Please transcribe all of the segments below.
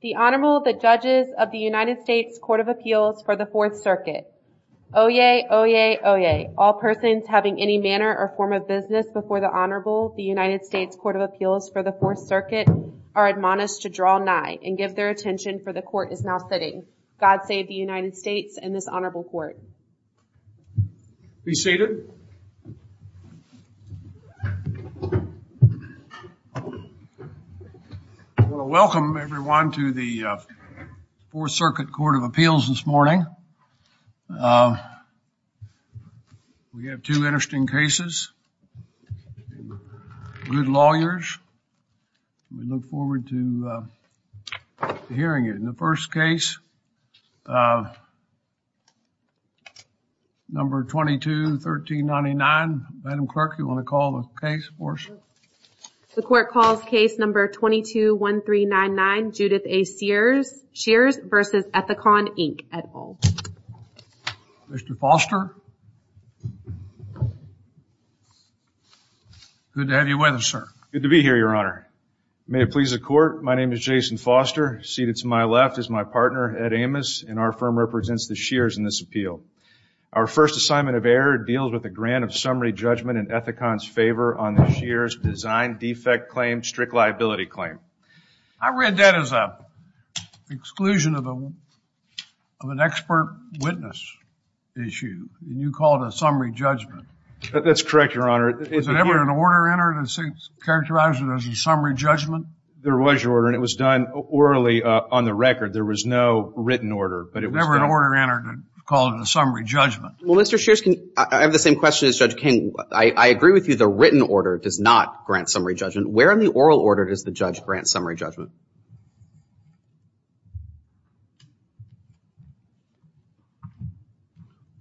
The Honorable the Judges of the United States Court of Appeals for the Fourth Circuit. Oyez! Oyez! Oyez! All persons having any manner or form of business before the Honorable the United States Court of Appeals for the Fourth Circuit are admonished to draw nigh and give their attention for the court is now proceeding. God save the United States and this Honorable Court. Be seated. I want to welcome everyone to the Fourth Circuit Court of Appeals this morning. We have two interesting cases. Good lawyers. We look forward to hearing it. In the first case, number 221399. Madam Clerk, do you want to call the case for us? The court calls case number 221399 Judith A. Shears v. Ethicon, Inc. Mr. Foster. Good to have you with us, sir. Good to be here, Your Honor. May it please the court, my name is Jason Foster. Seated to my left is my partner, Ed Amos, and our firm represents the Shears in this appeal. Our first assignment of error deals with a grant of summary judgment in Ethicon's favor on the Shears design defect claim, strict liability claim. I read that as a exclusion of an expert witness issue. You called a summary judgment. That's correct, Your Honor. Was there ever an order entered that characterized it as a record? There was no written order. There was never an order entered called a summary judgment. Well, Mr. Shears, I have the same question as Judge King. I agree with you. The written order does not grant summary judgment. Where in the oral order does the judge grant summary judgment?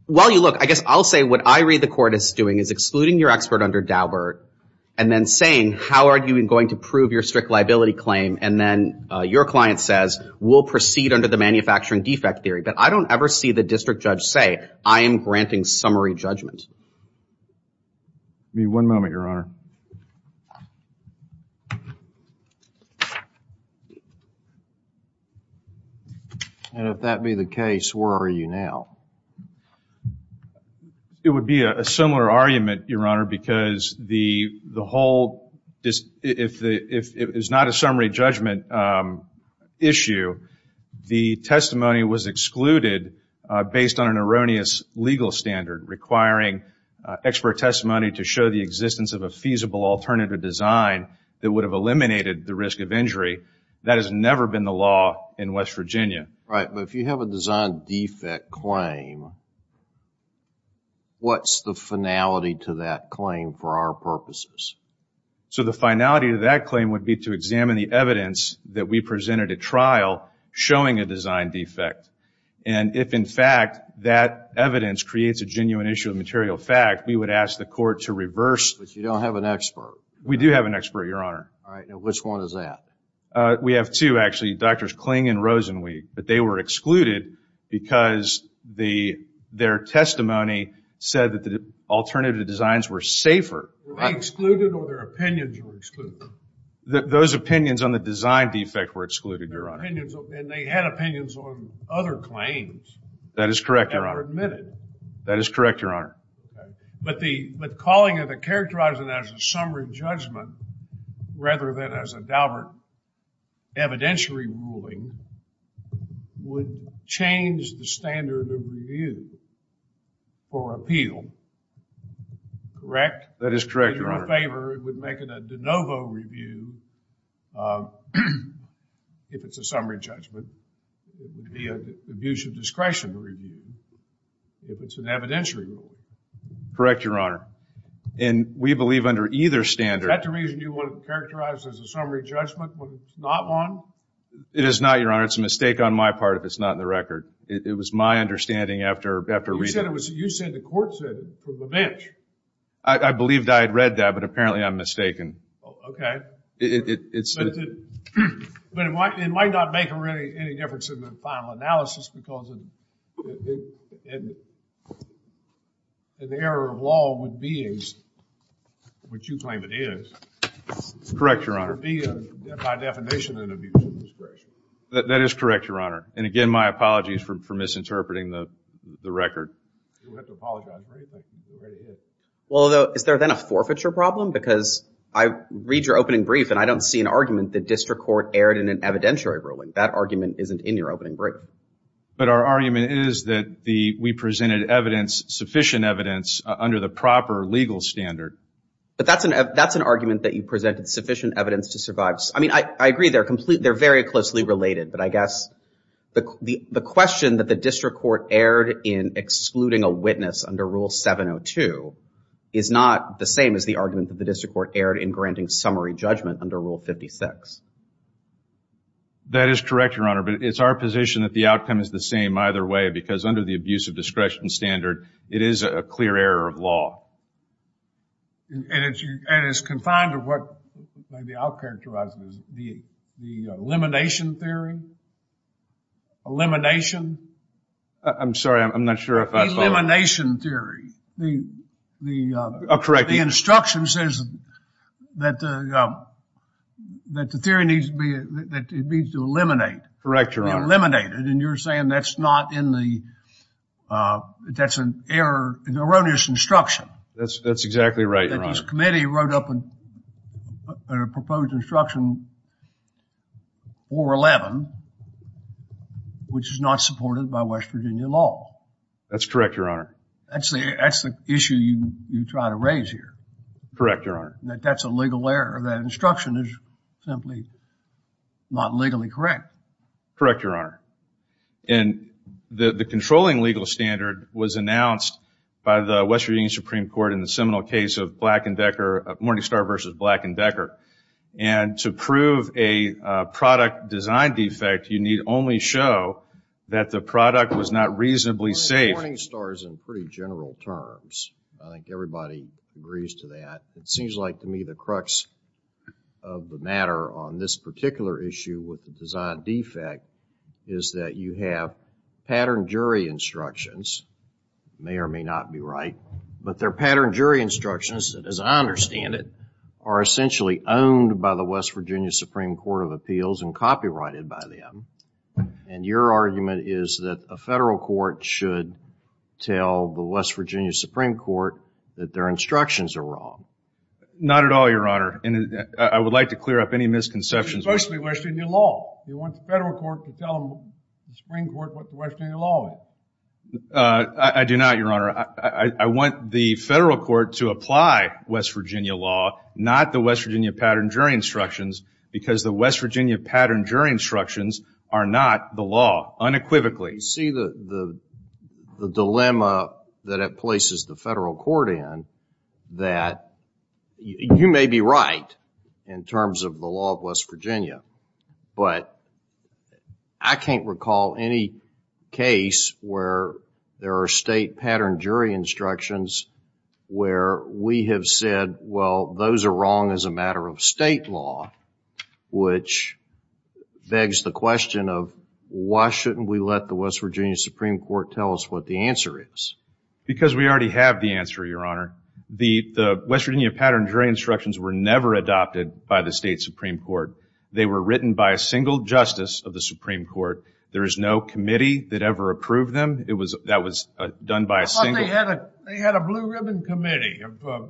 While you look, I guess I'll say what I read the court is doing is excluding your expert under Daubert and then saying how are you going to prove your strict liability claim and then your client says we'll proceed under the manufacturing defect theory. But I don't ever see the district judge say I am granting summary judgment. Give me one moment, Your Honor. And if that be the case, where are you now? It would be a similar argument, Your Honor, because the whole, if it's not a summary judgment issue, the testimony was excluded based on an erroneous legal standard requiring expert testimony to show the existence of a feasible alternative design that would have eliminated the risk of injury. That has never been the law in West Virginia. Right, but if you have a design defect claim, what's the finality to that claim for our purposes? So the finality to that claim would be to examine the evidence that we presented at trial showing a design defect. And if in fact that evidence creates a genuine issue of material fact, we would ask the court to reverse. But you don't have an expert. We do have an expert, Your Honor. All right, now which one is that? We have two actually, Drs. Kling and Rosenweig, but they were excluded because their testimony said that the alternative designs were safer. Were they excluded or their opinions were excluded? Those opinions on the design defect were excluded, Your Honor. And they had opinions on other claims. That is correct, Your Honor. That is correct, Your Honor. But the calling of the characterizing as a summary judgment rather than as a Daubert evidentiary ruling would change the standard of review for appeal, correct? That is correct, Your Honor. It would make it a de novo review if it's a summary judgment. It would be an abuse of discretion review if it's an evidentiary ruling. Correct, Your Honor. And we believe under either standard... Is that the reason you want to characterize as a summary judgment when it's not one? It is not, Your Honor. It's a mistake on my part if it's not in the record. It was my understanding after reading it. You said the court said it from the bench. I believed I had read that, but apparently I'm mistaken. Okay. But it might not make any difference in the final analysis because an error of law would be, which you claim it is... Correct, Your Honor. That is correct, Your Honor. And again, my apologies for misinterpreting the record. Well, is there then a forfeiture problem? Because I read your opening brief and I don't see an argument that district court erred in an evidentiary ruling. That argument isn't in your opening brief. But our argument is that we presented evidence, sufficient evidence, under the proper legal standard. But that's an argument that you presented, sufficient evidence to survive. I mean, I agree they're very closely related, but I guess the question that the district court erred in excluding a witness under Rule 702 is not the same as the argument that the district court erred in granting summary judgment under Rule 56. That is correct, Your Honor. But it's our position that the outcome is the same either way because under the abuse of discretion standard, it is a clear error of law. And it's confined to what maybe I'll characterize as the elimination theory? Elimination? I'm sorry, I'm not sure if I... Elimination theory. Correct. The instruction says that the theory needs to be, that it needs to eliminate. Correct, Your Honor. Eliminate it, and you're saying that's not in the, that's an error, an erroneous instruction. That's exactly right, Your Honor. That this committee wrote up a proposed instruction, 411, which is not supported by West Virginia law. That's correct, Your Honor. That's the issue you try to raise here. Correct, Your Honor. That that's a legal error. That instruction is simply not legally correct. Correct, Your Honor. And the controlling legal standard was announced by the West Virginia Supreme Court in the seminal case of Black and Becker, Morningstar versus Black and Becker. And to prove a product design defect, you need only show that the product was not reasonably safe. Morningstar is in pretty general terms. I think everybody agrees to that. It seems like to me the crux of the matter on this particular issue with the design defect is that you have pattern jury instructions, may or may not be right, but their pattern jury instructions, as I understand it, are essentially owned by the West Virginia Supreme Court of Appeals and copyrighted by them. And your argument is that a federal court should tell the West Virginia Supreme Court that their instructions are wrong. Not at all, Your Honor. And I would like to clear up any misconceptions. It's supposed to be West Virginia law. You want the federal court to tell the Supreme Court what the West Virginia law is. I do not, Your Honor. I want the federal court to apply West Virginia law, not the West Virginia pattern jury instructions, because the West Virginia pattern jury instructions are not the You see the dilemma that it places the federal court in, that you may be right in terms of the law of West Virginia, but I can't recall any case where there are state pattern jury instructions where we have said, well, those are wrong as a matter of state law, which begs the question of why shouldn't we let the West Virginia Supreme Court tell us what the answer is? Because we already have the answer, Your Honor. The West Virginia pattern jury instructions were never adopted by the state Supreme Court. They were written by a single justice of the Supreme Court. There is no committee that ever approved them. That was done by a single... I thought they had a blue ribbon committee of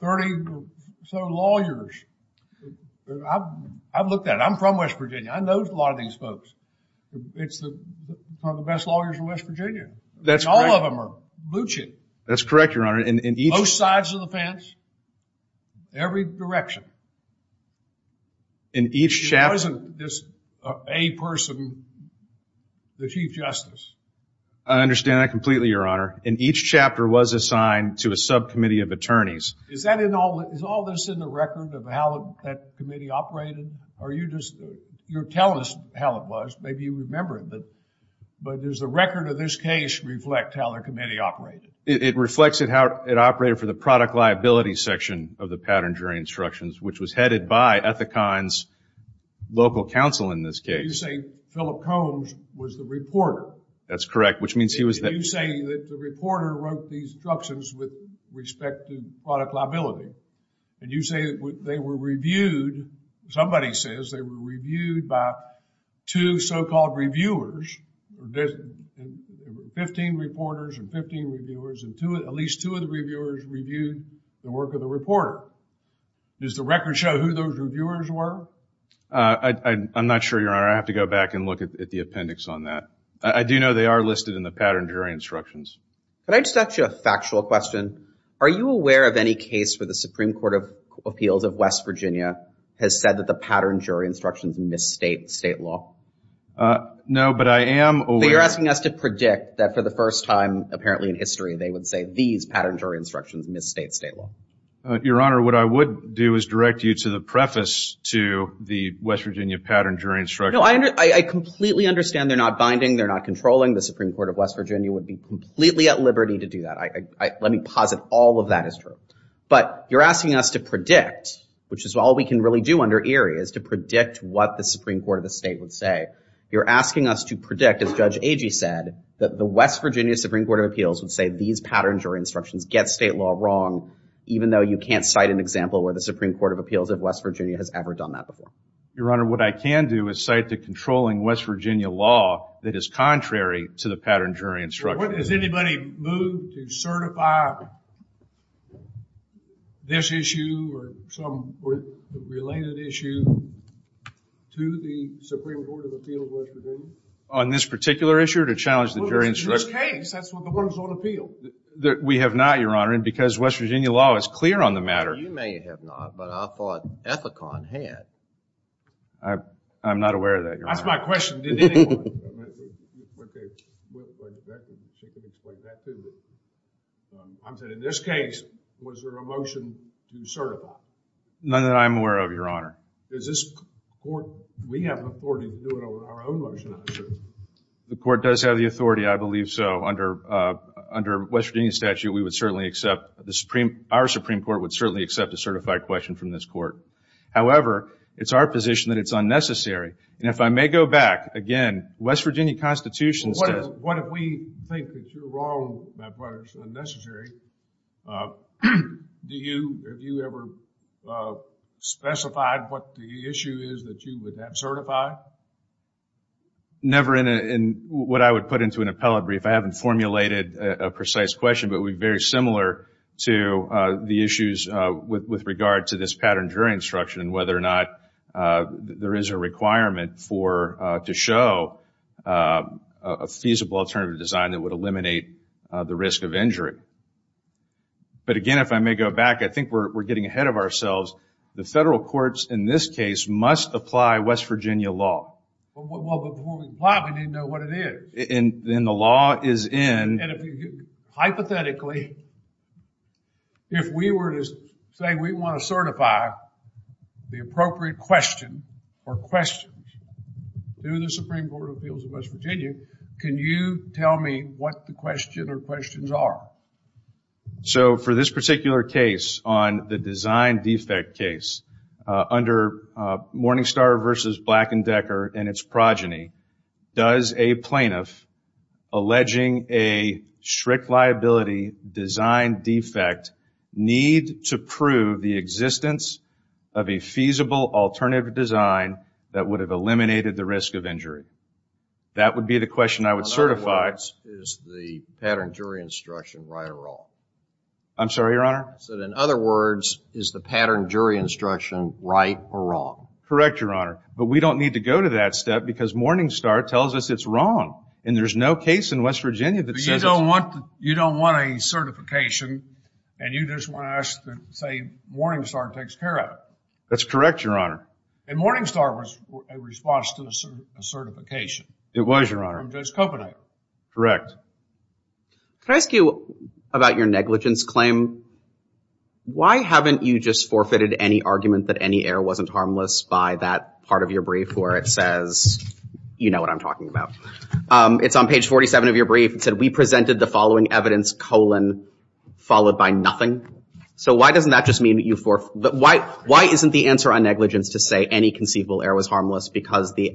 30 or so lawyers. I've looked at it. I'm from West Virginia. I know a lot of these folks. It's one of the best lawyers in West Virginia. All of them are butching. That's correct, Your Honor. Both sides of the fence, every direction. It wasn't just a person, the chief justice. I understand that completely, Your Honor. And each chapter was assigned to a subcommittee of attorneys. Is all this in the record of how that committee operated? You're telling us how it was. Maybe you remember it. But does the record of this case reflect how the committee operated? It reflects how it operated for the product liability section of the pattern jury instructions, which was headed by Ethicon's local counsel in this case. You're saying Philip Combs was the reporter. That's correct, which means he was... You're saying that the reporter wrote these instructions with respect to product liability. And you say they were reviewed. Somebody says they were reviewed by two so-called reviewers. Fifteen reporters and fifteen reviewers and at least two of the reviewers reviewed the work of the reporter. Does the record show who those reviewers were? I'm not sure, Your Honor. I have to go back and look at the appendix on that. I do know they are listed in the pattern jury instructions. Can I just ask you a factual question? Are you aware of any case where the Supreme Court of Appeals of West Virginia has said that the pattern jury instructions misstate state law? No, but I am aware... But you're asking us to predict that for the first time apparently in history they would say these pattern jury instructions misstate state law. Your Honor, what I would do is direct you to the preface to the West Virginia pattern jury instructions. No, I completely understand they're not binding, they're not controlling. The Supreme Court of West Virginia would be completely at liberty to do that. Let me posit all of that is true. But you're asking us to predict, which is all we can really do under Erie, is to predict what the Supreme Court of the state would say. You're asking us to predict, as Judge Agee said, that the West Virginia Supreme Court of Appeals would say these pattern jury instructions get state law wrong even though you can't cite an example where the Supreme Court of Appeals of West Virginia has ever done that before. Your Honor, what I can do is cite the controlling West Virginia law that is contrary to the pattern jury instructions. Has anybody moved to certify this issue or some related issue to the Supreme Court of Appeals of West Virginia? On this particular issue, to challenge the jury instructions? In this case, that's what the ones on appeal. We have not, Your Honor, because West Virginia law is clear on the matter. You may have not, but I thought Ethicon had. I'm not aware of that, Your Honor. That's my question. She could explain that, too. I'm saying in this case, was there a motion to certify? None that I'm aware of, Your Honor. Does this court, we have the authority to do it over our own motion, I assume? The court does have the authority, I believe so. Under West Virginia statute, we would certainly accept, the Supreme, our Supreme Court would certainly accept a certified question from this court. However, it's our position that it's unnecessary. And if I may go back, again, West Virginia Constitution says... What if we think that you're wrong? That's why it's unnecessary. Have you ever specified what the issue is that you would have certified? Never in what I would put into an appellate brief. I haven't formulated a precise question, but we're very similar to the issues with regard to this pattern jury instruction and whether or not there is a requirement to show a feasible alternative design that would eliminate the risk of injury. But again, if I may go back, I think we're getting ahead of ourselves. The federal courts in this case must apply West Virginia law. Well, before we apply it, we need to know what it is. And the law is in... Hypothetically, if we were to say we want to certify the appropriate question or questions to the Supreme Court of Appeals of West Virginia, can you tell me what the question or questions are? So, for this particular case on the design defect case, under Morningstar v. Black & Decker and its progeny, does a plaintiff alleging a strict liability design defect need to prove the existence of a feasible alternative design that would have eliminated the risk of injury? That would be the question I would certify. In other words, is the pattern jury instruction right or wrong? I'm sorry, Your Honor? I said, in other words, is the pattern jury instruction right or wrong? Correct, Your Honor. But we don't need to go to that step because Morningstar tells us it's wrong. And there's no case in West Virginia that says it's... But you don't want a certification and you just want us to say Morningstar takes care of it. That's correct, Your Honor. And Morningstar was a response to a certification. It was, Your Honor. From Judge Kopenhagen. Correct. Can I ask you about your negligence claim? Why haven't you just forfeited any argument that any error wasn't harmless by that part of your brief where it says, you know what I'm talking about. It's on page 47 of your brief. It said, we presented the following evidence, colon, followed by nothing. So why doesn't that just mean that you... Why isn't the answer on negligence to say any conceivable error was harmless because the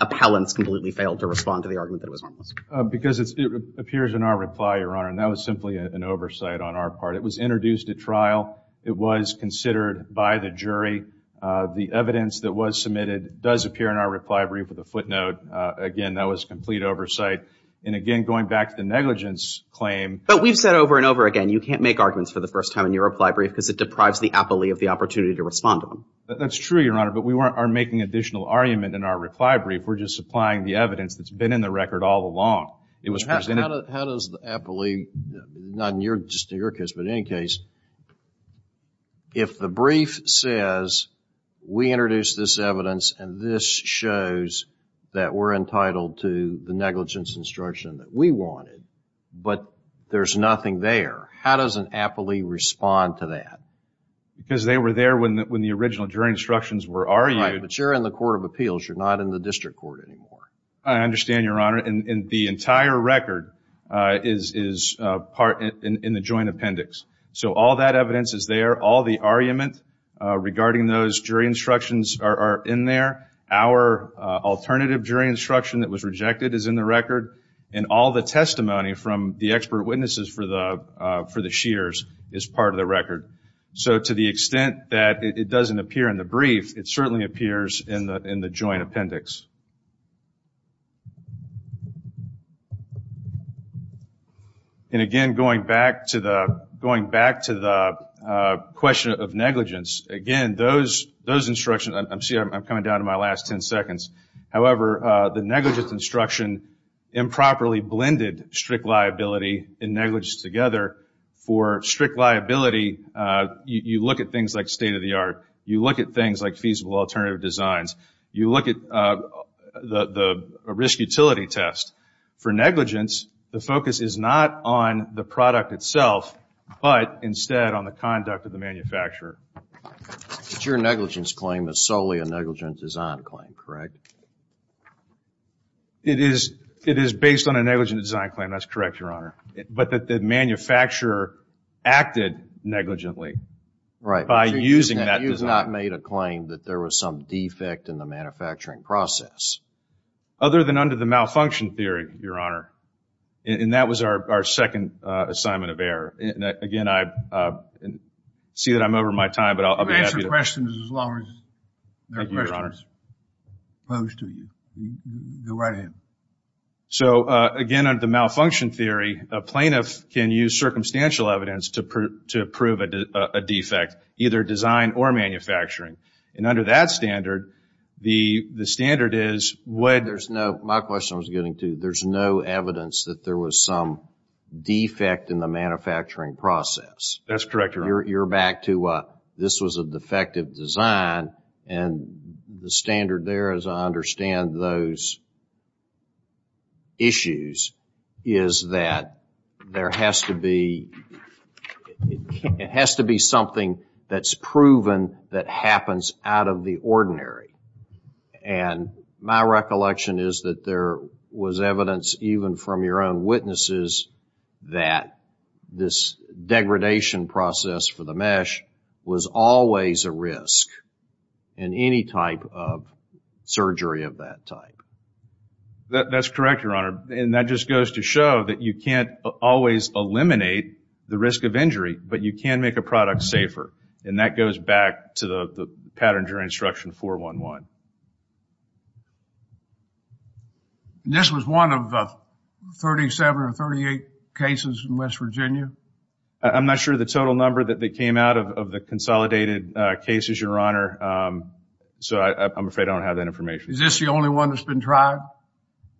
appellants completely failed to respond to the argument that it was harmless? Because it appears in our reply, Your Honor. And that was simply an oversight on our part. It was introduced at trial. It was considered by the jury. The evidence that was submitted does appear in our reply brief with a footnote. Again, that was complete oversight. And again, going back to the negligence claim... But we've said over and over again, you can't make arguments for the first time in your reply brief because it deprives the appellee of the opportunity to respond to them. That's true, Your Honor. But we aren't making additional argument in our reply brief. We're just supplying the evidence that's been in the record all along. It was presented... How does the appellee, not just in your case, but in any case, if the brief says, we introduced this evidence and this shows that we're entitled to the negligence instruction that we wanted, but there's nothing there, how does an appellee respond to that? Because they were there when the original jury instructions were argued. Right, but you're in the court of appeals. You're not in the district court anymore. I understand, Your Honor. And the entire record is part in the joint appendix. So all that evidence is there. All the argument regarding those jury instructions are in there. Our alternative jury instruction that was rejected is in the record. And all the testimony from the expert witnesses for the shears is part of the record. So to the extent that it doesn't appear in the brief, it certainly appears in the joint appendix. And again, going back to the question of negligence, again, those instructions I'm coming down to my last 10 seconds. However, the negligence instruction improperly blended strict liability and negligence together. For strict liability, you look at things like state-of-the-art. You look at things like feasible alternative designs. You look at the risk-utility test. For negligence, the focus is not on the product itself, but instead on the conduct of the manufacturer. But your negligence claim is solely a negligent design claim, correct? It is based on a negligent design claim. That's correct, Your Honor. But the manufacturer acted negligently by using that design. You have not made a claim that there was some defect in the manufacturing process. Other than under the malfunction theory, Your Honor. And that was our second assignment of error. Again, I see that I'm over my time, but I'll be happy to... You can answer questions as long as there are questions posed to you. Go right ahead. So, again, under the malfunction theory, a plaintiff can use circumstantial evidence to prove a defect, either design or manufacturing. And under that standard, the standard is... There's no... My question I was getting to, there's no evidence that there was some defect in the manufacturing process. That's correct, Your Honor. You're back to this was a defective design and the standard there, as I understand those issues, is that there has to be... It has to be something that's proven that happens out of the ordinary. And my recollection is that there was evidence even from your own witnesses that this degradation process for the mesh was always a risk in any type of surgery of that type. That's correct, Your Honor. And that just goes to show that you can't always eliminate the risk of injury, but you can make a product safer. And that goes back to the pattern during Instruction 411. This was one of 37 or 38 cases in West Virginia? I'm not sure the total number that came out of the consolidated cases, Your Honor. So I'm afraid I don't have that information. Is this the only one that's been tried?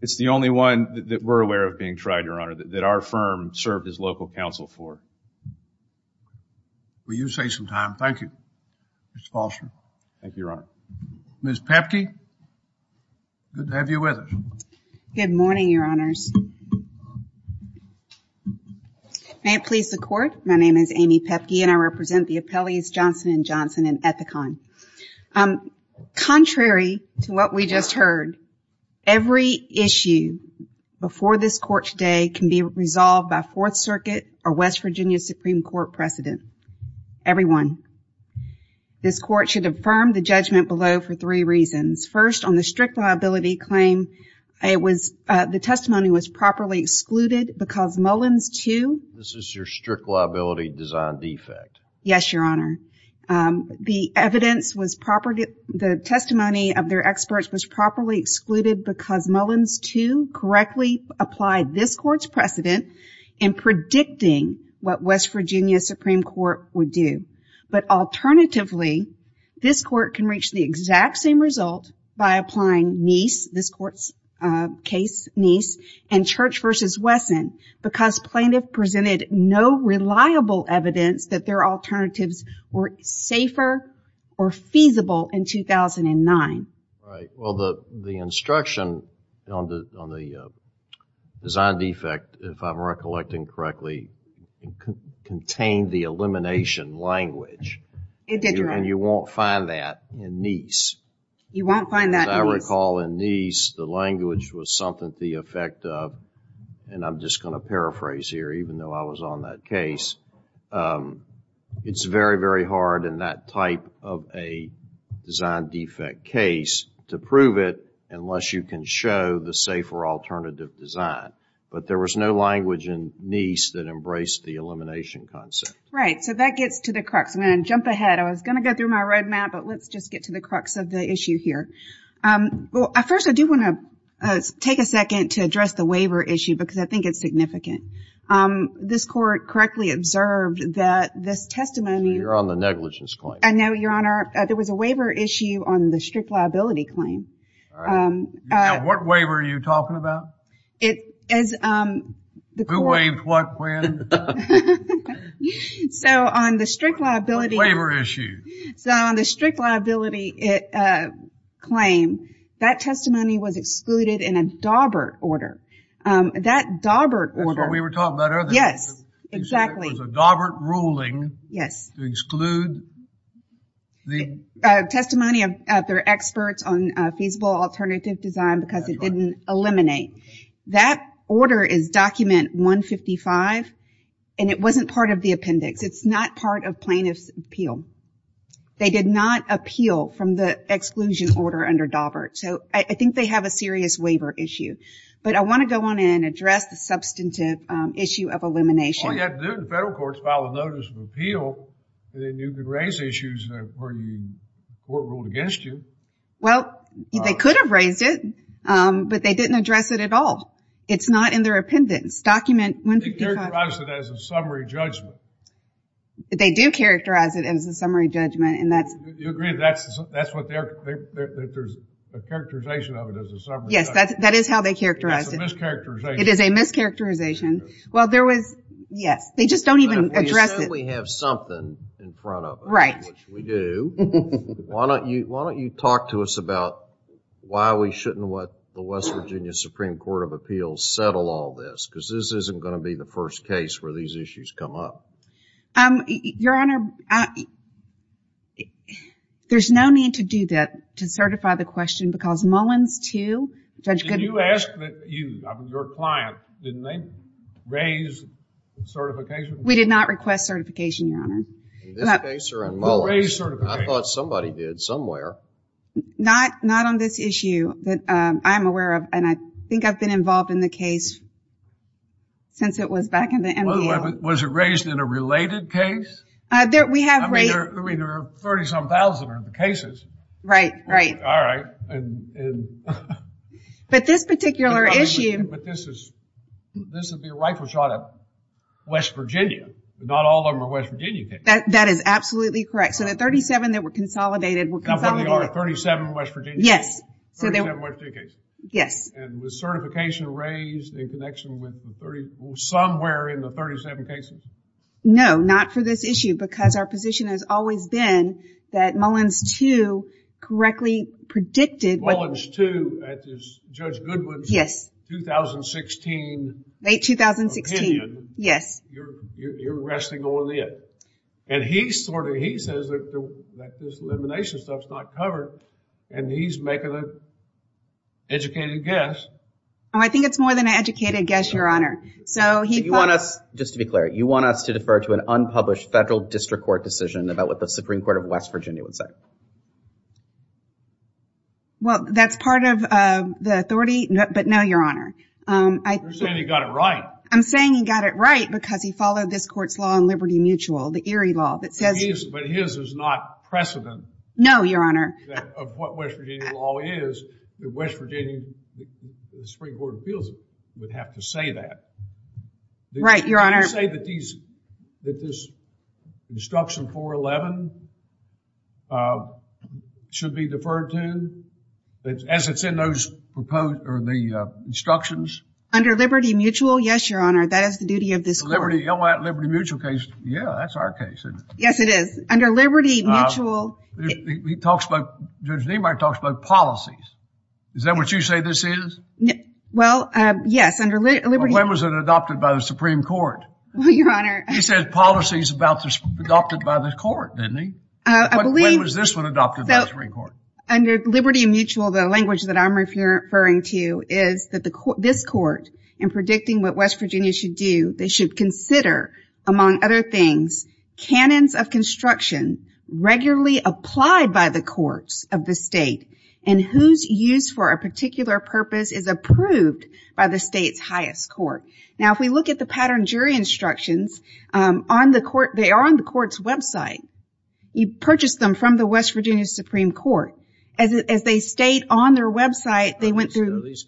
It's the only one that we're aware of being tried, Your Honor, that our firm served as local counsel for. Will you say some time? Thank you, Ms. Foster. Thank you, Your Honor. Ms. Pepke, good to have you with us. Good morning, Your Honors. May it please the Court, my name is Amy Pepke and I represent the Appellees Johnson & Johnson and Ethicon. Contrary to what we just heard, every issue before this Court today can be resolved by Fourth Circuit or West Virginia Supreme Court precedent. Everyone, this Court should affirm the judgment below for three reasons. on the strict liability claim, the testimony was properly excluded because Mullen's two... This is your strict liability design defect. Yes, Your Honor. The evidence was proper, the testimony of their experts was properly excluded because Mullen's two correctly applied this Court's precedent in predicting what West Virginia Supreme Court would do. But alternatively, this Court can reach the exact same result by applying Neis, this Court's case, Neis and Church versus Wesson because plaintiff presented no reliable evidence that their alternatives were safer or feasible in 2009. Right. Well, the instruction on the design defect, if I'm recollecting correctly, contained the elimination language. It did, Your Honor. And you won't find that in Neis. You won't find that in Neis. As I recall, in Neis, the language was something to the effect of, and I'm just going to paraphrase here, even though I was on that case, it's very, very hard in that type of a design defect case to prove it unless you can show the safer alternative design. But there was no language in Neis that embraced the elimination concept. Right. So that gets to the crux. I'm going to jump ahead. I was going to go through my red map, but let's just get to the crux of the issue here. First, I do want to take a second to address the waiver issue because I think it's significant. This court correctly observed that this testimony... You're on the negligence claim. I know, Your Honor. There was a waiver issue on the strict liability claim. All right. Now, what waiver are you talking about? It is... Who waived what when? So, on the strict liability... What waiver issue? So, on the strict liability claim, that testimony was excluded in a Dawbert order. That Dawbert order... That's what we were talking about earlier. exactly. It was a Dawbert ruling to exclude the... A testimony of their experts on feasible alternative design because it didn't eliminate. That order is document 155 and it wasn't part of the appendix. It's not part of plaintiff's appeal. They did not appeal from the exclusion order under Dawbert. So, I think they have a serious waiver issue. But I want to go on and address the substantive issue of elimination. All you have to do in the federal court is file a notice of appeal and then you can raise issues where the court ruled against you. Well, they could have raised it, but they didn't address it at all. It's not in their appendix, document 155. They do characterize it as a summary judgment. You agree that there's a characterization of it as a summary judgment? Yes, that is how they characterized it. It is a mischaracterization. Yes, they just don't even address it. You said we have something in front of us, which we do. Why don't you talk to us about why we shouldn't let the West Virginia Supreme Court of Appeals settle all this? Because this isn't going to be the first case where these issues come up. Your Honor, there's no need to do that to certify the question because Mullins too. Did you ask your client, didn't they raise certification? We did not request certification, I thought somebody did somewhere. Not on this issue that I'm aware of and I think I've never been involved in the case since it was back in the Was it raised in a related case? We have raised 37,000 cases. Right, right. But this particular issue. But this would be a rifle shot at West Virginia. Not all of them are West Virginia cases. That is absolutely correct. So the 37 that were consolidated were consolidated. 37 West Virginia cases? Yes. And was certification raised in connection with somewhere in the 37 cases? No, not for this issue because our position has always been that the too correctly predicted that the was too 2016 opinion. You're resting on the edge. And he says that this elimination stuff is not covered and he's making a more guess. I think it's more than an educated guess, Your Honor. Just to be you want us to defer to an unpublished federal district court decision about what the Supreme Court of West Virginia would say? That's not precedent No, Your Honor. Of what West Virginia law is that West Virginia Supreme Court of Appeals would have to say that. Right, Your Honor. say that this instruction 411 should be deferred to as it's in those instructions? Under Liberty Mutual, yes, Your Honor. That is the duty of this court. The Liberty Mutual case, yeah, that's our case. Yes, it is. Under Liberty Mutual He talks about Judge Neimark talks about policies. Is that what you say this is? Well, yes, under Liberty Mutual When was it adopted by the Supreme Court? Your Honor. He said policies adopted by the court, didn't he? I believe When was this one by the Court? Under Liberty Mutual The language I'm referring to is this court should consider among other things cannons of construction regularly applied by the courts of the state and who is used for a purpose is approved by the state's court They are on the court's website You purchased them from the West Virginia Supreme Court Are these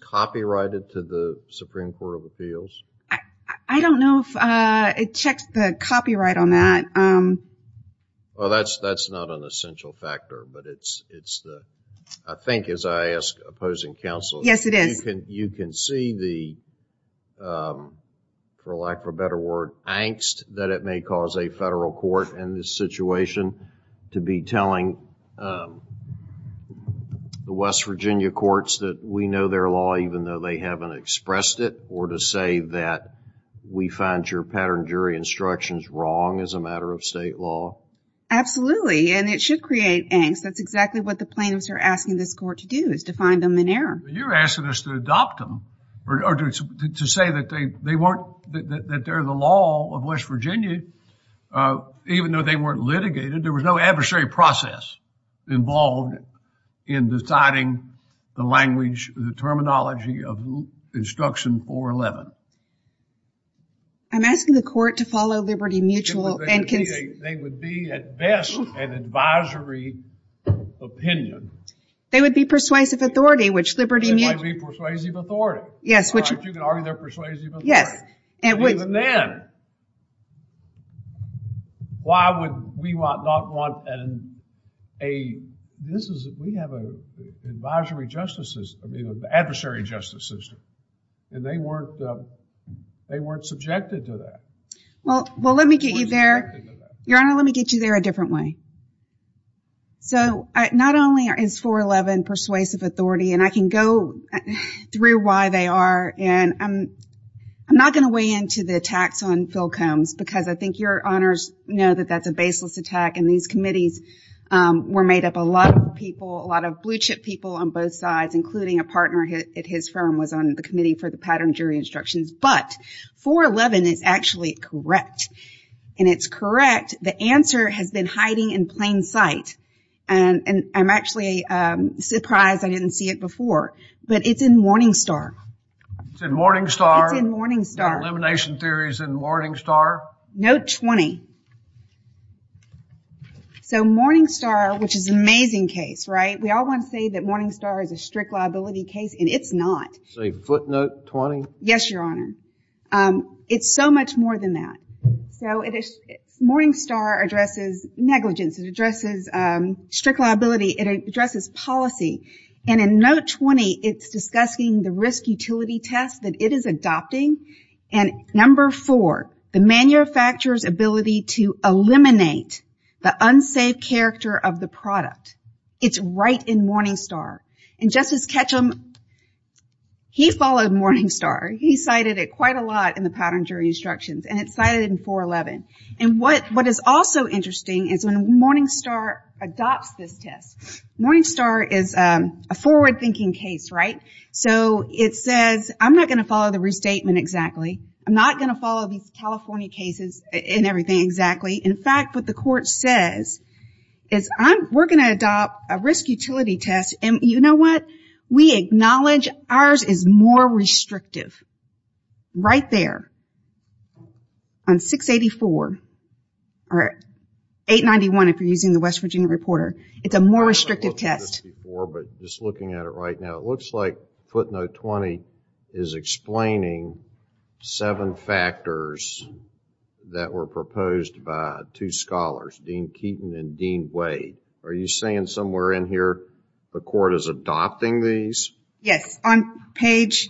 copyrighted to the Court of Appeals? I don't Yes it is You can see the for lack of a better word angst that it may cause a federal court in this situation to be the West Virginia courts that we know their law even though they haven't expressed it or to say that we find your pattern jury instructions wrong as a of state law Absolutely and it should create angst that's exactly what the terminology of instruction 411 I'm asking the court to follow liberty mutual They would be at best an advisory opinion They would be persuasive authority Yes persuasive authority Yes Even then why would we not want and a this is we have advisory justices adversary justice system and they weren't subjected to that Well let me get you there a different way So not only is 411 persuasive authority and I can go through why they are and I'm not going to weigh into the attacks on Phil Combs because I think your honors know that that's a baseless attack and these were made up a lot of people a lot of blue chip people on both sides including a partner at his firm was on the committee for the elimination theories in Morning Note 20 So Morning Star which is an amazing case right we all want to say that Morning Star is a liability case and it's not Say footnote 20 Yes your honor it's so much more than that so Morning Star addresses strict liability it addresses policy and in note 20 it's discussing the risk utility test that it is adopting and number 4 the manufacturer's policy eliminate the unsafe character of the product it's right in Morning Star and Justice Ketchum he followed Morning Star he cited it quite a lot in the pattern jury instructions and it's cited in 411 and what is also interesting is when Morning Star adopts this test Morning Star is a forward thinking case right so it says I'm not going to the test 684 or 891 if you're using the West Virginia Reporter it's a more restrictive test it looks like footnote 20 is explaining seven factors that were proposed by two scholars Dean Keaton and Dean Wade are you saying somewhere in here the court is adopting these yes on page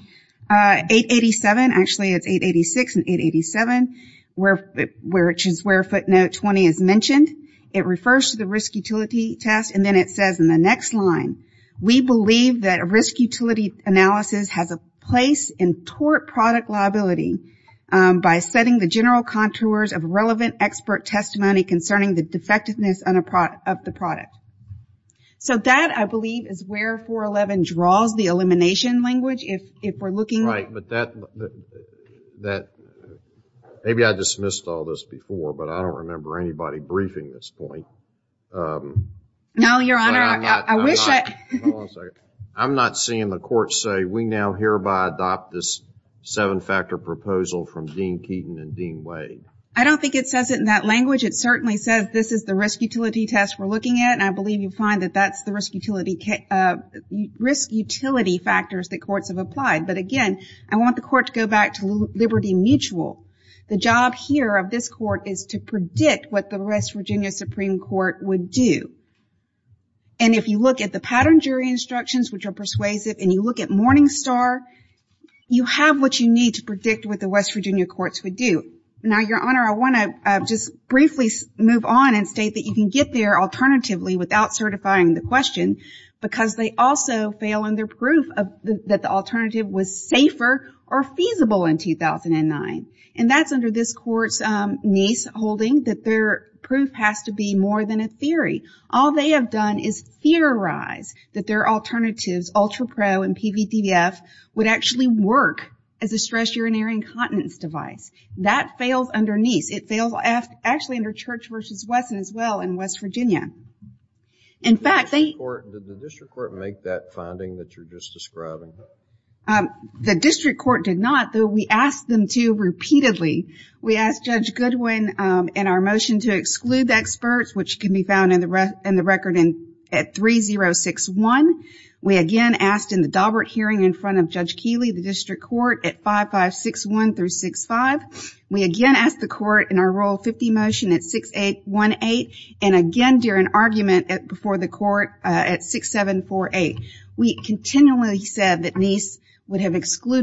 887 actually it's 886 and 887 where footnote 20 is mentioned it refers to risk utility test and then it says in the next line we believe that risk utility analysis has a place in tort product liability by setting the general contours of relevant expert testimony concerning the defectiveness of the product so that I believe is where 411 draws the elimination language if we're looking at that maybe I dismissed all this before but I don't remember anybody briefing this point I'm not seeing the court say we now hereby adopt this 7 factor proposal from Dean Keaton and Dean Wade I don't think it says it in that it certainly says this is the risk utility test I believe you find that's the risk utility factors I want the court to go back to liberty mutual the job here is to predict what the West Virginia Supreme Court would do if you look at pattern jury instructions you have what you need to predict what the West Virginia courts would do you can get there alternatively without certifying the question because they also fail in proof that the was safer or feasible in 2009 and that's under this court's niece holding that their proof has to be more than a In fact they did the district court make that finding that you're just describing? The district court did not though we asked them to repeatedly. asked Judge Goodwin in our motion to exclude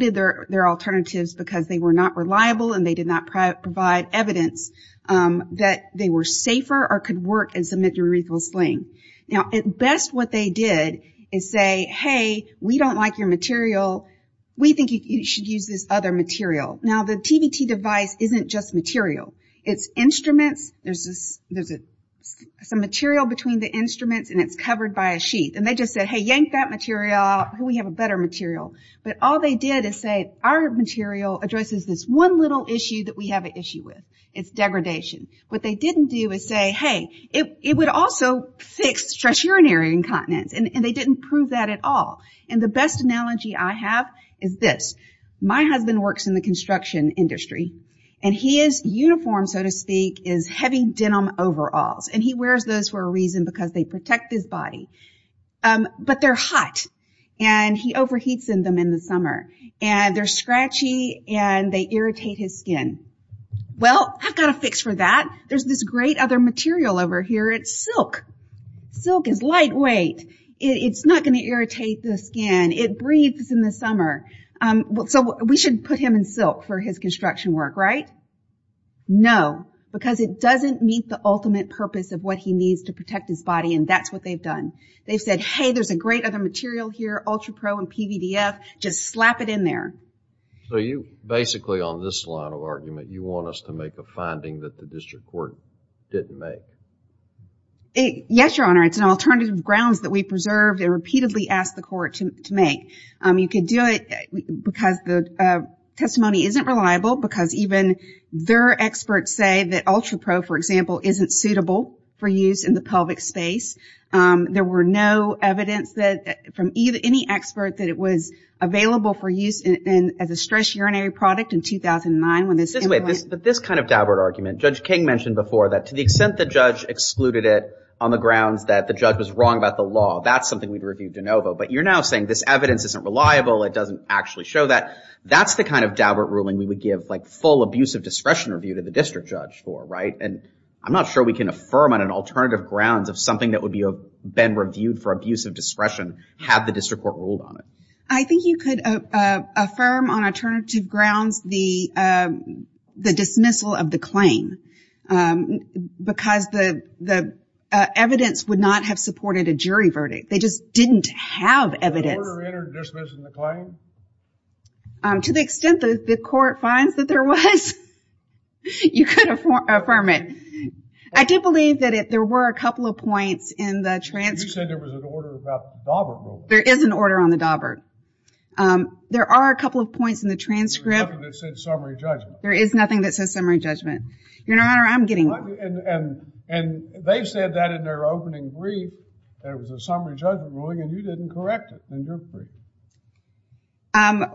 their alternatives because they were not reliable and did not provide evidence that they were safer or could work in submittal sling. At best they said we don't like your material we think you should use this other material. The device isn't just material it's instruments there's a material between the and it's covered by a They said our material addresses one issue degradation they didn't say it would fix stress urinary incontinence they didn't prove that at all. My husband works in the construction industry and he wears heavy denim overalls because they protect his body but they hot and scratchy and irritate his skin. I have a fix for it's silk it's not going to irritate the skin it breathes in the summer we should put him in silk for his construction work right? because it doesn't meet the ultimate purpose of what he needs to protect his body and that's what you can do it because the testimony isn't reliable because even their experts say that ultra pro isn't suitable for use in the pelvic space there was evidence that from any expert that it was available for use as a stress urinary product in 2009 this kind of argument judge king mentioned to the extent the excluded it on the grounds that the judge was wrong about the law but you're now saying this evidence isn't reliable it doesn't actually show that that's the kind of ruling we would give full support to the verdict they just didn't have evidence to the extent the court finds that there was you could affirm it I did believe that there were a there was an on the dobert there are a couple of points in the transcript there is nothing that says summary judgment your honor I'm getting one and they said that in their opening brief there was a summary judgment ruling and you didn't correct it in your brief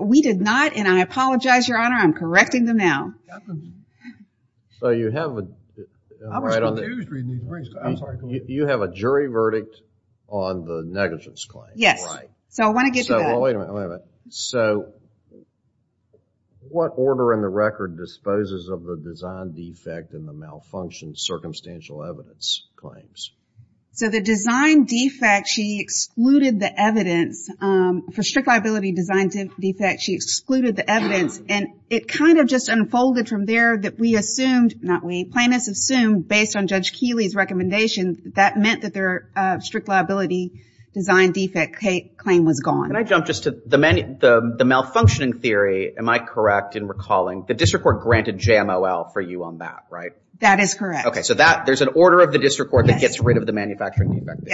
we did not and I apologize your honor I'm correcting them now you have a jury verdict on the negligence claim yes so I want to get to that so what order in the record disposes of the design defect and the malfunction circumstantial evidence claims so the design defect she excluded the evidence for strict liability design defect she excluded the evidence and it kind of just unfolded from there that we assumed based on judge Keeley's that meant that their design defect claim was gone the malfunctioning theory am I correct in recalling the district court granted JML for you on that so there's an order of the district court that gets rid of the negligence why don't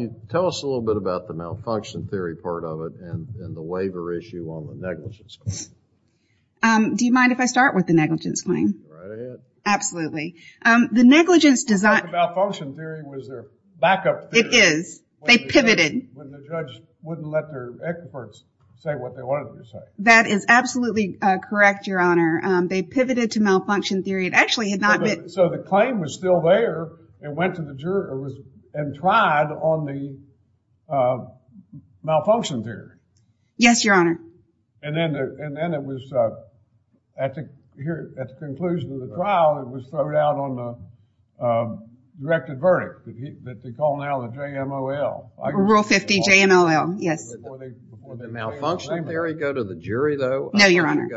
you tell us a little bit about the malfunction theory part of it and the waiver issue on the negligence claim do you if I start with the negligence claim absolutely the negligence design back up it is they pivoted wouldn't let their experts say what they wanted to say that is absolutely correct your honor they pivoted to malfunction theory so the claim was still there and went to the jury and tried on the malfunction theory yes your honor and then it was at the conclusion of the trial it was thrown out on the directed verdict that they call now the JMLL rule 50 JMLL yes the malfunction theory go to the jury though no your honor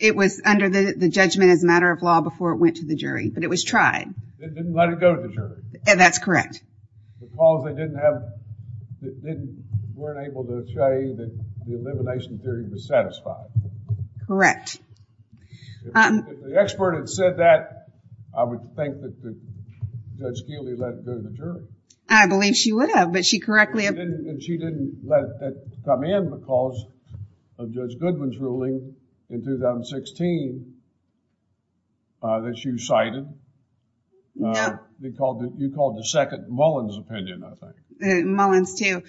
it was under the judgment as a of law before it went to the but it was tried didn't let it come in because of Judge Goodwin's in 2016 that you cited you called the second Mullins opinion Mullins 2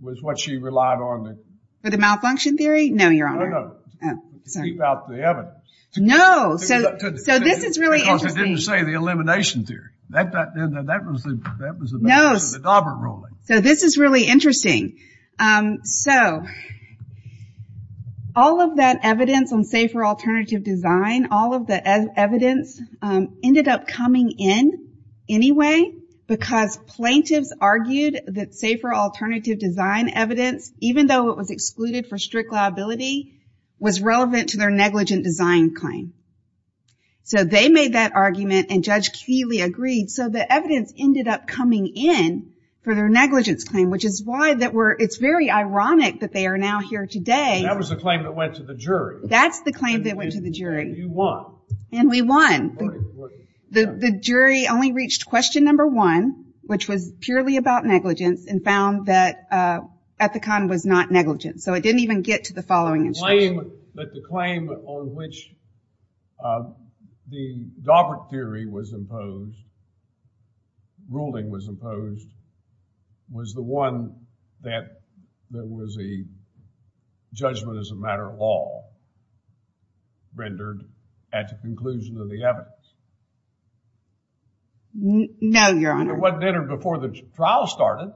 was what she relied on the malfunction theory no your honor keep out the evidence no so this is really interesting because it didn't say the elimination theory that was the dauber ruling so this is really interesting so all of that evidence on safer alternative design all of the evidence ended up coming in anyway because plaintiffs argued that safer alternative design evidence even though it was excluded for strict liability was relevant to their negligent design claim so they made that argument and judge Keely agreed so the evidence ended up coming in for their negligence claim which is why it's very ironic that they are now here today that's the claim that went to the and we won the jury only reached question number one which was purely about negligence and found that Ethicon was not negligent so it didn't was the one that that was a judgment as a matter of law rendered at the conclusion of the evidence no your honor it wasn't entered before the trial started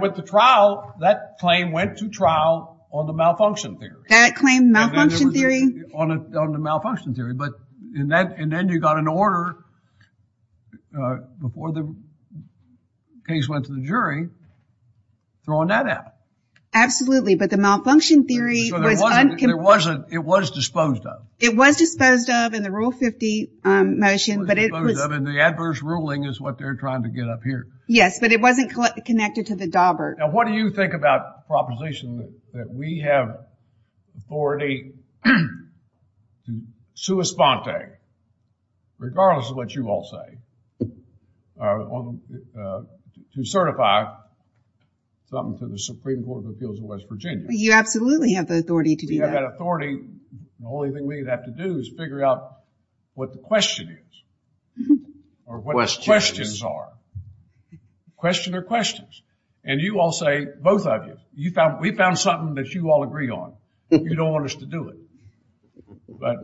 with the trial that claim went to trial on the malfunction theory that claim malfunction theory on the malfunction theory but and then you got an order before the case went to the jury throwing that out absolutely but the malfunction theory was it was disposed of it was disposed of in the rule 50 motion but it was disposed of in the adverse ruling is what they're trying to get up here yes but it wasn't connected to the dauber now what do you think about the proposition that we have authority to to certify something to the Supreme Court of Appeals of West Virginia you absolutely have the authority to do that we have that authority the only thing we have to do is figure out what the question is or what the questions are questions are questions and you all say both of you we found something that you all agree on you don't want us to do it but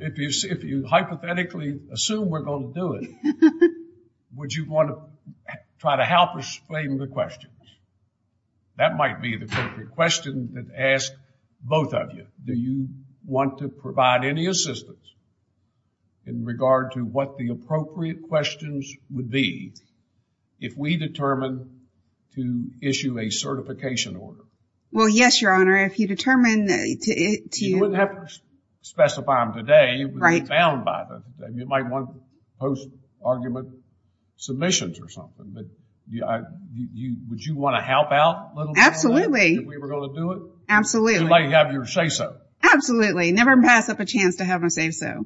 if you hypothetically assume we're going to do it would you want to try to help explain the questions that might be the appropriate question that asked both of you do you want to provide any assistance in regard to what the questions would be if we determine to issue a certification order well yes your honor if you determine to you wouldn't have to them today you might want post argument submissions or something would you want to help out absolutely if we were going to do it absolutely never pass up a chance to have a say so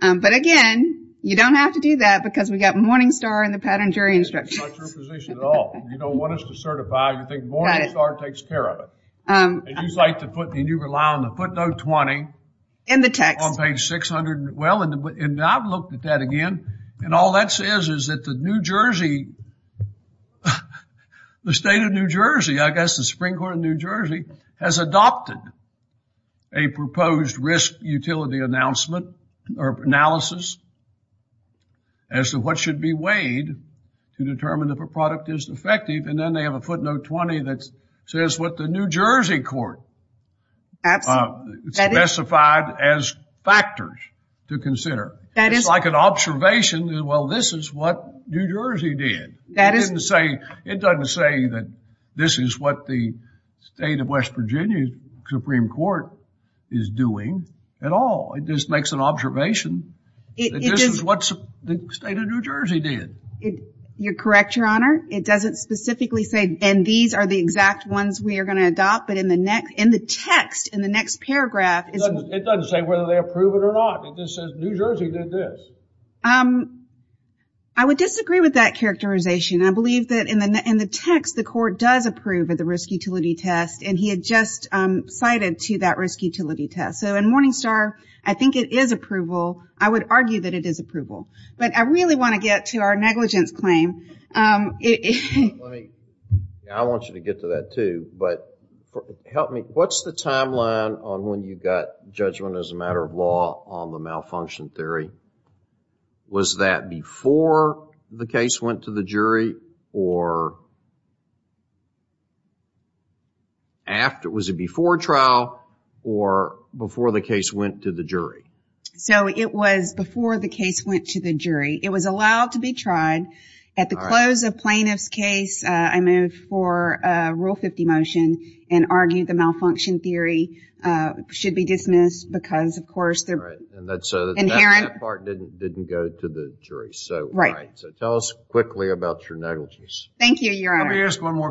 but again you don't have to do that because we've got morning star and the footnote 20 on page 600 and I've looked at that again and all that says is that the state of New Jersey has adopted a proposed risk utility announcement or analysis as to what should be weighed to if a product is effective and then they have a 20 that says what the New Jersey court specified as factors to consider it's like an observation well this is what New Jersey did it doesn't say that this is what the state of West Virginia Supreme Court is doing at all it just makes an observation that this is what the state of New Jersey did you correct your honor it doesn't specifically say and these are the exact ones we are going to adopt but in the next in the text in the next paragraph it doesn't say whether they approve it or not it just says New Jersey did this I would disagree with that characterization I believe in the text the court does approve the risk utility test I think it is approval I would argue it is approval I really want to get to our negligence claim I want you to tell me was that before the case went to the jury or after was it before trial or before the case went to the jury so it was before the case went to the jury it was allowed to be tried at the close of plaintiff's case I move for rule 50 motion and argue the malfunction theory should be dismissed because of course inherent that part didn't go to the jury so tell us quickly about your negligence thank you your honor let me ask one more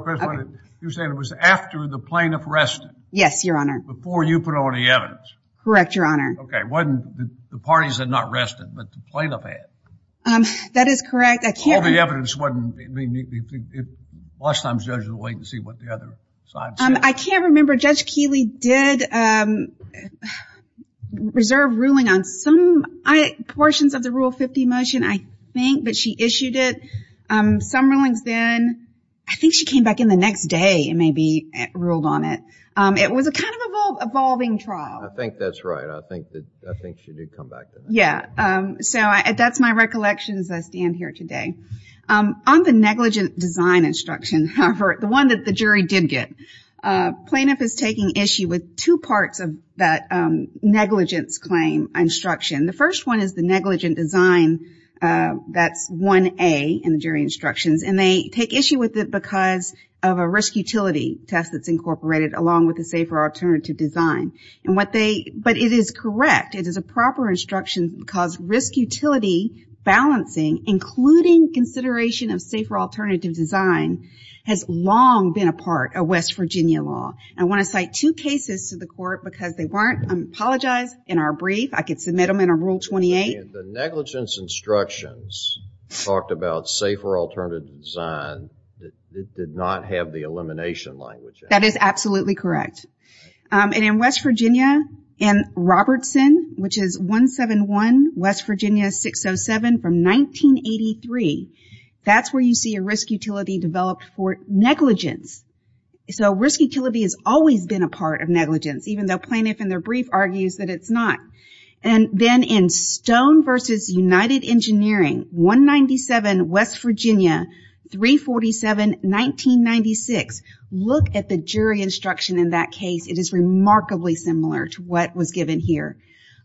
I can't remember judge Keeley did reserve ruling on some portions of the rule 50 motion I think but she issued it some rulings then I think she came back in the next day and maybe ruled on it it was a kind of evolving trial I think that's right I think she did come back that's my recollection as I stand here today on the negligent design instruction the one the jury did get plaintiff is taking issue with two parts of that negligence claim instruction the first one is the negligent design that's 1A and they take issue with it because of a risk utility test that's incorporated along with the safer alternative design it is correct it is a proper instruction because risk utility balancing including consideration of safer alternative design has long been a part of West Virginia law I want to cite two cases to the court because they weren't apologized in our brief I can submit them in rule 28 the negligence instructions talked about safer alternative design did not have the elimination language that is absolutely correct in West Virginia and Robertson which is 171 West Virginia 607 from 1983 that's where you see a risk utility developed for negligence so risk utility has always been a part of negligence even though plaintiff argues it's not in stone versus united engineering 197 West Virginia 347 1996 look at the jury instruction in that case it is remarkably similar to what was given here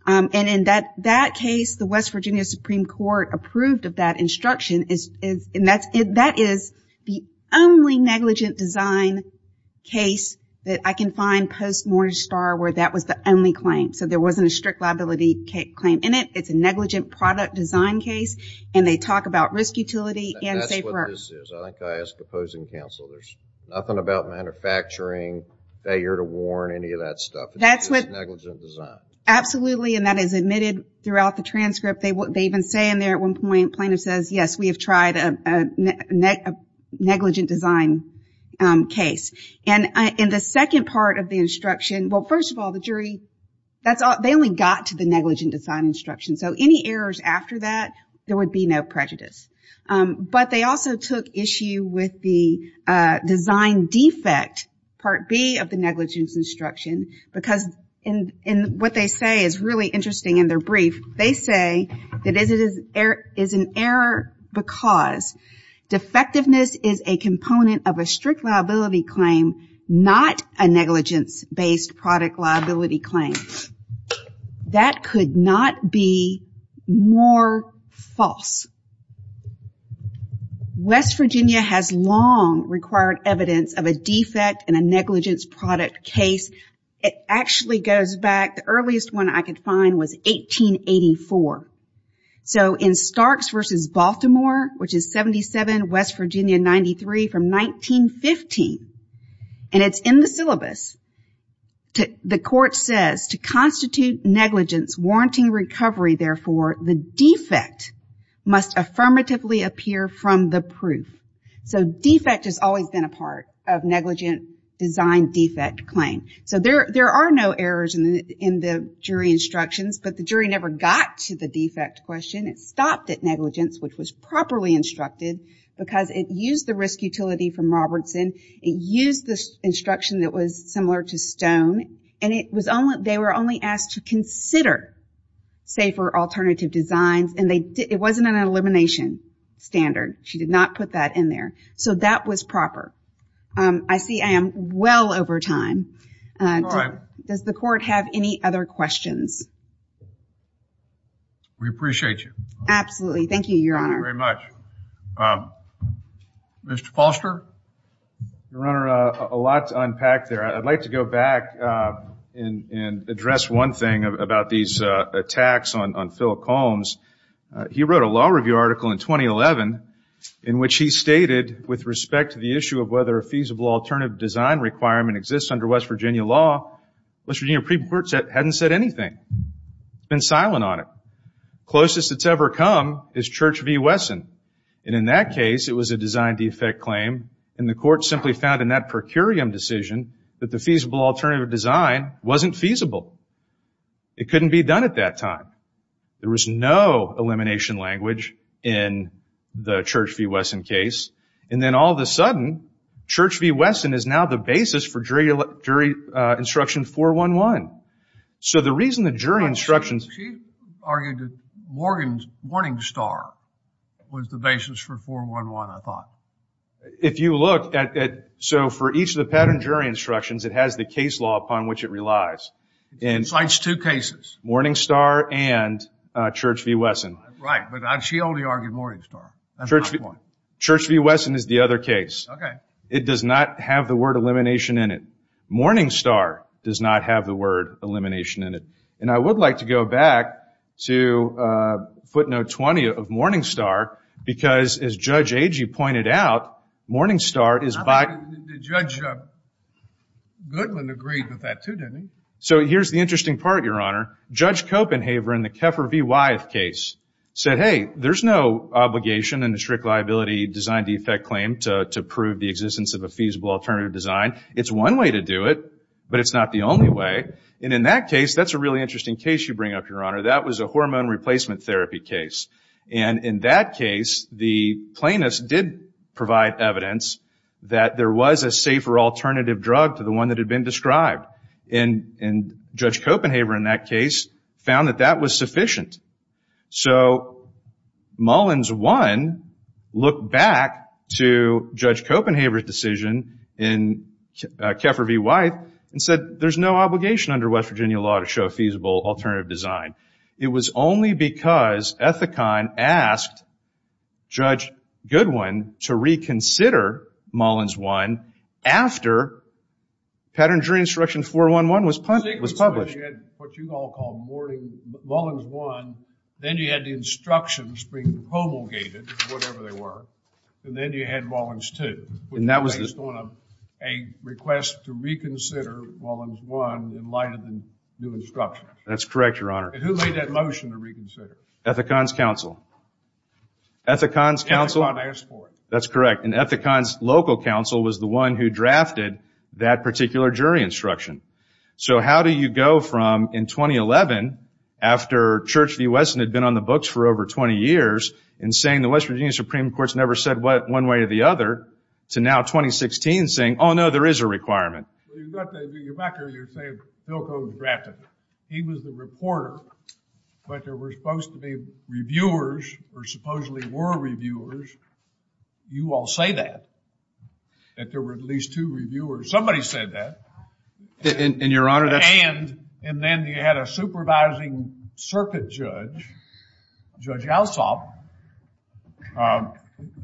in that case West Virginia Supreme Court approved instruction that is the only negligent design case that I can find post mortage star where that was the only claim so there wasn't a strict liability claim in it it's a negligent product design case and they talk about risk utility and negligent design case and in the second part of the instruction well first of all the jury they only got to the negligent design instruction so any errors after that there would be no prejudice but they also took issue with the design defect part B of the negligence instruction because what they say is really interesting in their brief they say it is an error because defectiveness is a component of a strict liability claim not a negligence based product liability claim that could not be more false West Virginia has long required evidence of a defect and a negligence product case it actually goes back the earliest one I could find was 1884 so in Starks versus Baltimore which is 77 West Virginia 93 from 1915 and it's in the the court says to constitute negligence warranty recovery therefore the defect must affirmatively appear from the proof so defect has always been a part of negligence design defect claim so there are no errors in the jury instructions but the jury never got to the defect question it at negligence which was properly instructed because it used the risk utility from Robertson it used the instruction that was similar to Stone and it was only they were only asked to consider safer alternative designs and it wasn't an elimination standard she did not put that in there so that was proper I see I am well over time does the court have any other questions we appreciate you absolutely thank you your honor thank you very much Mr. Foster your honor a lot to unpack there I would like to go back and address one thing about these attacks on Philip Combs he wrote a law review article in 2011 in which he stated with respect to the issue of whether a feasible alternative design requirement exists under West law it hasn't said anything it's been silent on it closest it's ever come is Church V Wesson in that case it was a design defect claim in the court found in that decision that the feasible alternative design wasn't feasible it couldn't be done at that time there was no elimination language in the Church V Wesson case and then all of a sudden Church V Wesson is now the basis for jury instruction 411 so the reason the instructions she argued Morgan's Morning Star was the basis for 411 I thought if you look at so for each of the pattern jury instructions it has the case law upon which it relies Morning Star and Church V Wesson Church V is the other case it does not have the word elimination in it Morning Star does not have the word elimination in it and I would like to go back to footnote 20 of Morning Star because as Judge Agee pointed out Morning Star is by Judge Goodwin agreed with that too didn't he? So here's the interesting part Your Honor Judge Copenhaver in the Keffer V. Wyeth case said hey there's no obligation in the strict liability design defect claim to prove the existence of a feasible alternative design it's one way to do it but it's not the only way and in that case that's a really interesting case you bring up Your that was a hormone replacement therapy case and in that case the plaintiffs did provide evidence that there was a safer alternative drug to the one that had been described and Judge Copenhaver in that case found that that was sufficient so Mullins 1 looked back to Judge Copenhaver's decision in Keffer V. Wyeth and said there's no obligation under West Virginia law to show feasible alternative design it was only because Ethicon asked Judge Goodwin to reconsider Mullins 1 after pattern jury instruction 411 was published what you all call Mullins 1 then you had the instructions being promulgated whatever they were and then you had Mullins 2 and that was based on a request to reconsider Mullins 1 in light of the instructions that's correct your honor and who made that motion to reconsider Ethicon's council Ethicon's council Ethicon asked for it that's correct and Ethicon's local council was the one who drafted that particular jury instruction so how do you go from in 2011 after Church v. Weston had been on the books for over 20 years and saying the West Virginia Supreme Court never said one way or the other to now 2016 saying oh no there is a requirement you're back there and you're saying Pilko's drafted he was the reporter but there were supposed to be reviewers or supposedly were reviewers you all say that that there were at least two reviewers somebody said that and your honor that's and and then you had a supervising circuit judge Judge Alsop and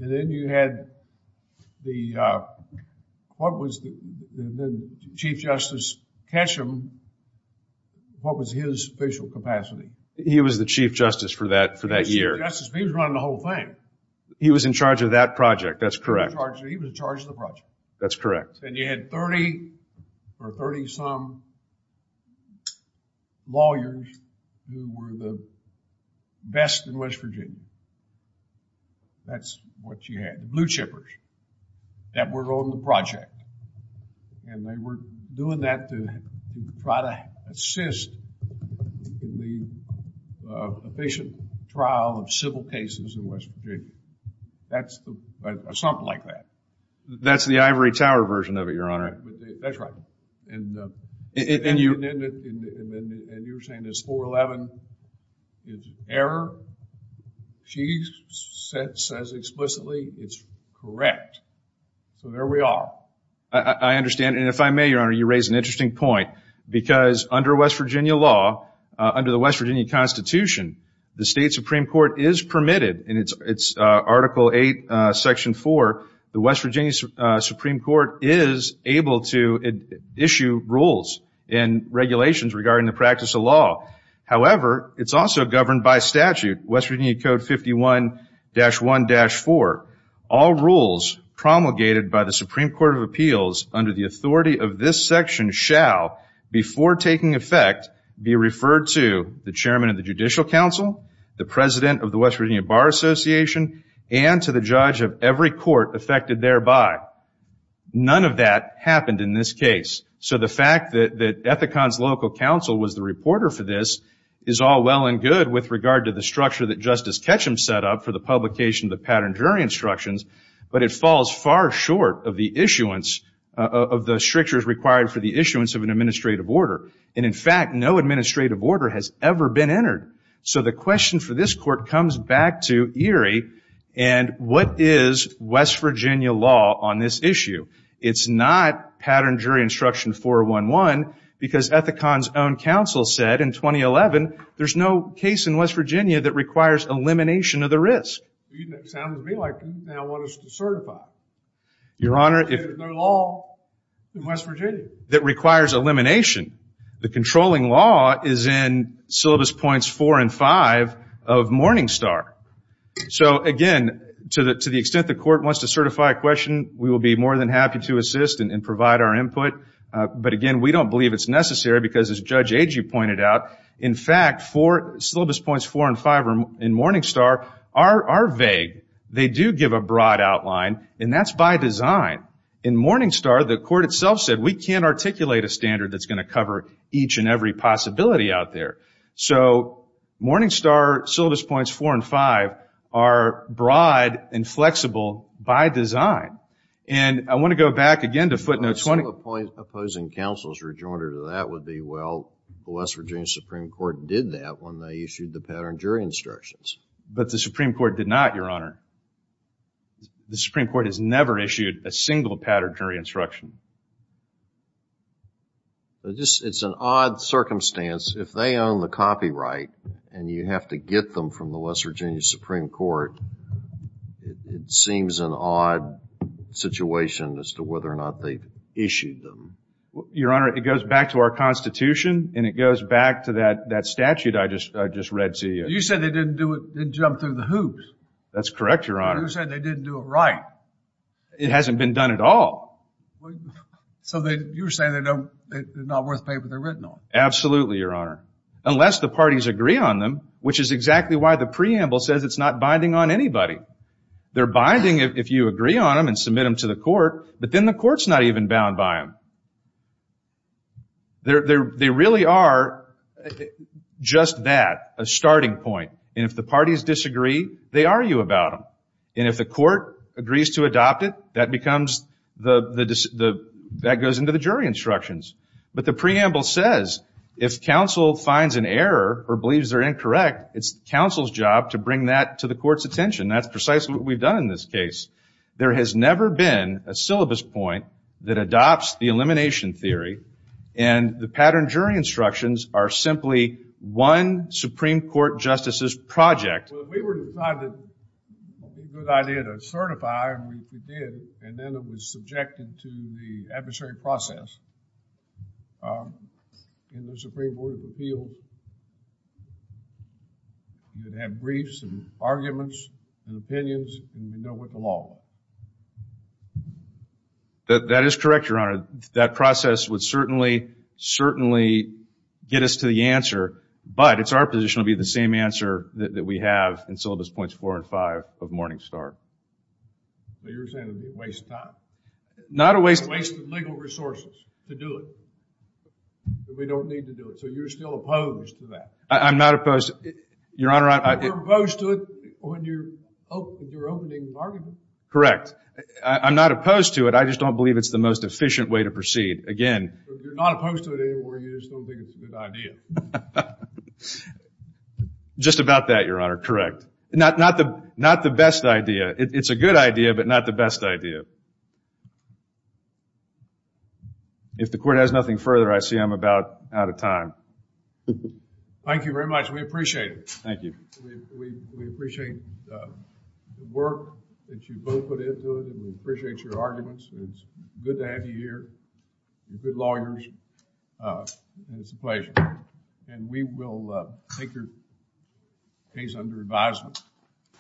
then you had the what was the Chief Justice Ketchum what was his official capacity he was the Chief Justice for that for that year he was running the whole thing he was in charge of that project that's correct he was in charge of the project that's correct and you had 30 or 30 some lawyers who were the best in West Virginia that's what you had the blue chippers that were on the project and they were doing that to try to assist the patient trial of civil cases in West Virginia that's something like that that's the ivory tower version of it your honor that's right and and you and you were saying it's 411 it's error she says explicitly it's correct so there we are I understand and if I may your honor you raise an interesting point because under West Virginia law under the West Virginia constitution the state supreme court is permitted and it's it's article 8 section 4 the West Virginia supreme court is able to issue rules and regulations regarding the practice of law however it's also governed by statute West Virginia code 51 dash 1 dash 4 all rules promulgated by the supreme court of appeals under the authority of this section shall before taking effect be referred to the chairman of the judicial council the president of the West Virginia bar association and to the judge of every court affected thereby none of that happened in this case so the fact that that Ethicon's local council was the reporter for this is all well and good with regard to the structure that justice Ketchum set up for the publication of the pattern jury instructions but it falls far short of the issuance of the strictures required for the issuance of an administrative order and in fact no administrative order has ever been entered so the question for this court comes back to and what is West Virginia law on this issue it's not pattern jury instruction 411 because Ethicon's own council said in 2011 there's no case in West Virginia that requires elimination of the risk you sound to me like you now want us to certify your honor if there's no law in West Virginia that requires elimination the controlling law is in syllabus points four and five of Morningstar so again to the extent the court wants to certify a question we will be more than happy to assist and provide our input but again we don't believe it's necessary because as Judge Agee pointed out in fact four syllabus points four and five in Morningstar are vague they do give a broad outline and that's by design in Morningstar the court itself said we can't articulate a standard that's going to cover each and every possibility out there so Morningstar syllabus points four and five are broad and flexible by design and I want to go back again to footnote 20 opposing counsel has rejoined her to that would be well the West Virginia Supreme Court did that when they issued the pattern jury instructions but the Supreme Court did not your honor the Supreme Court has never issued a single pattern jury instruction it's an odd circumstance if they own the copyright and you have to get them from the West Virginia Supreme Court it seems an odd situation as to whether or not they issued them your honor it goes back to our constitution and it goes back to that statute I just read to you you said they didn't do it they jumped through the hoops that's correct your honor you said they didn't do it right it hasn't been done at all so you're saying they're not worth the paper they're written on absolutely your honor unless the parties agree on them which is exactly why the preamble says it's not binding on anybody they're binding if you agree on them and submit them to the court but then the court's not even bound by them they really are just that a starting point and if the parties disagree they argue about them and if the court agrees to adopt it that becomes that goes into the jury instructions but the preamble says if counsel finds an error or believes they're incorrect it's counsel's job to bring that to the court's discretion that's precisely what we've done in this case there has never been a syllabus point that adopts the elimination theory and the pattern jury instructions are simply one supreme court justice's project we were decided it would be a good idea to certify and we did and then it was subjected to the adversary process in the opinion and the law that is correct your honor that process would certainly certainly get us to the answer but it's our position to be the same answer we have the syllabus points four and five of Morningstar so you're saying it would be a waste of time not a waste of legal resources to do it we don't need to do it so you're still opposed to that I'm not opposed to it your honor you're opposed to it when you're opening the correct I'm not opposed to it I just don't believe it's the most efficient way to proceed again you're not opposed to it anymore you just don't think it's a good idea just about that your honor correct not the not the best idea it's a good idea but not the best idea if the court has nothing further I see I'm about out of time thank you very much we appreciate it thank you we appreciate the work that you both put into it we appreciate your arguments it's good to have you here you're good lawyers and it's a and we will take your case under advisement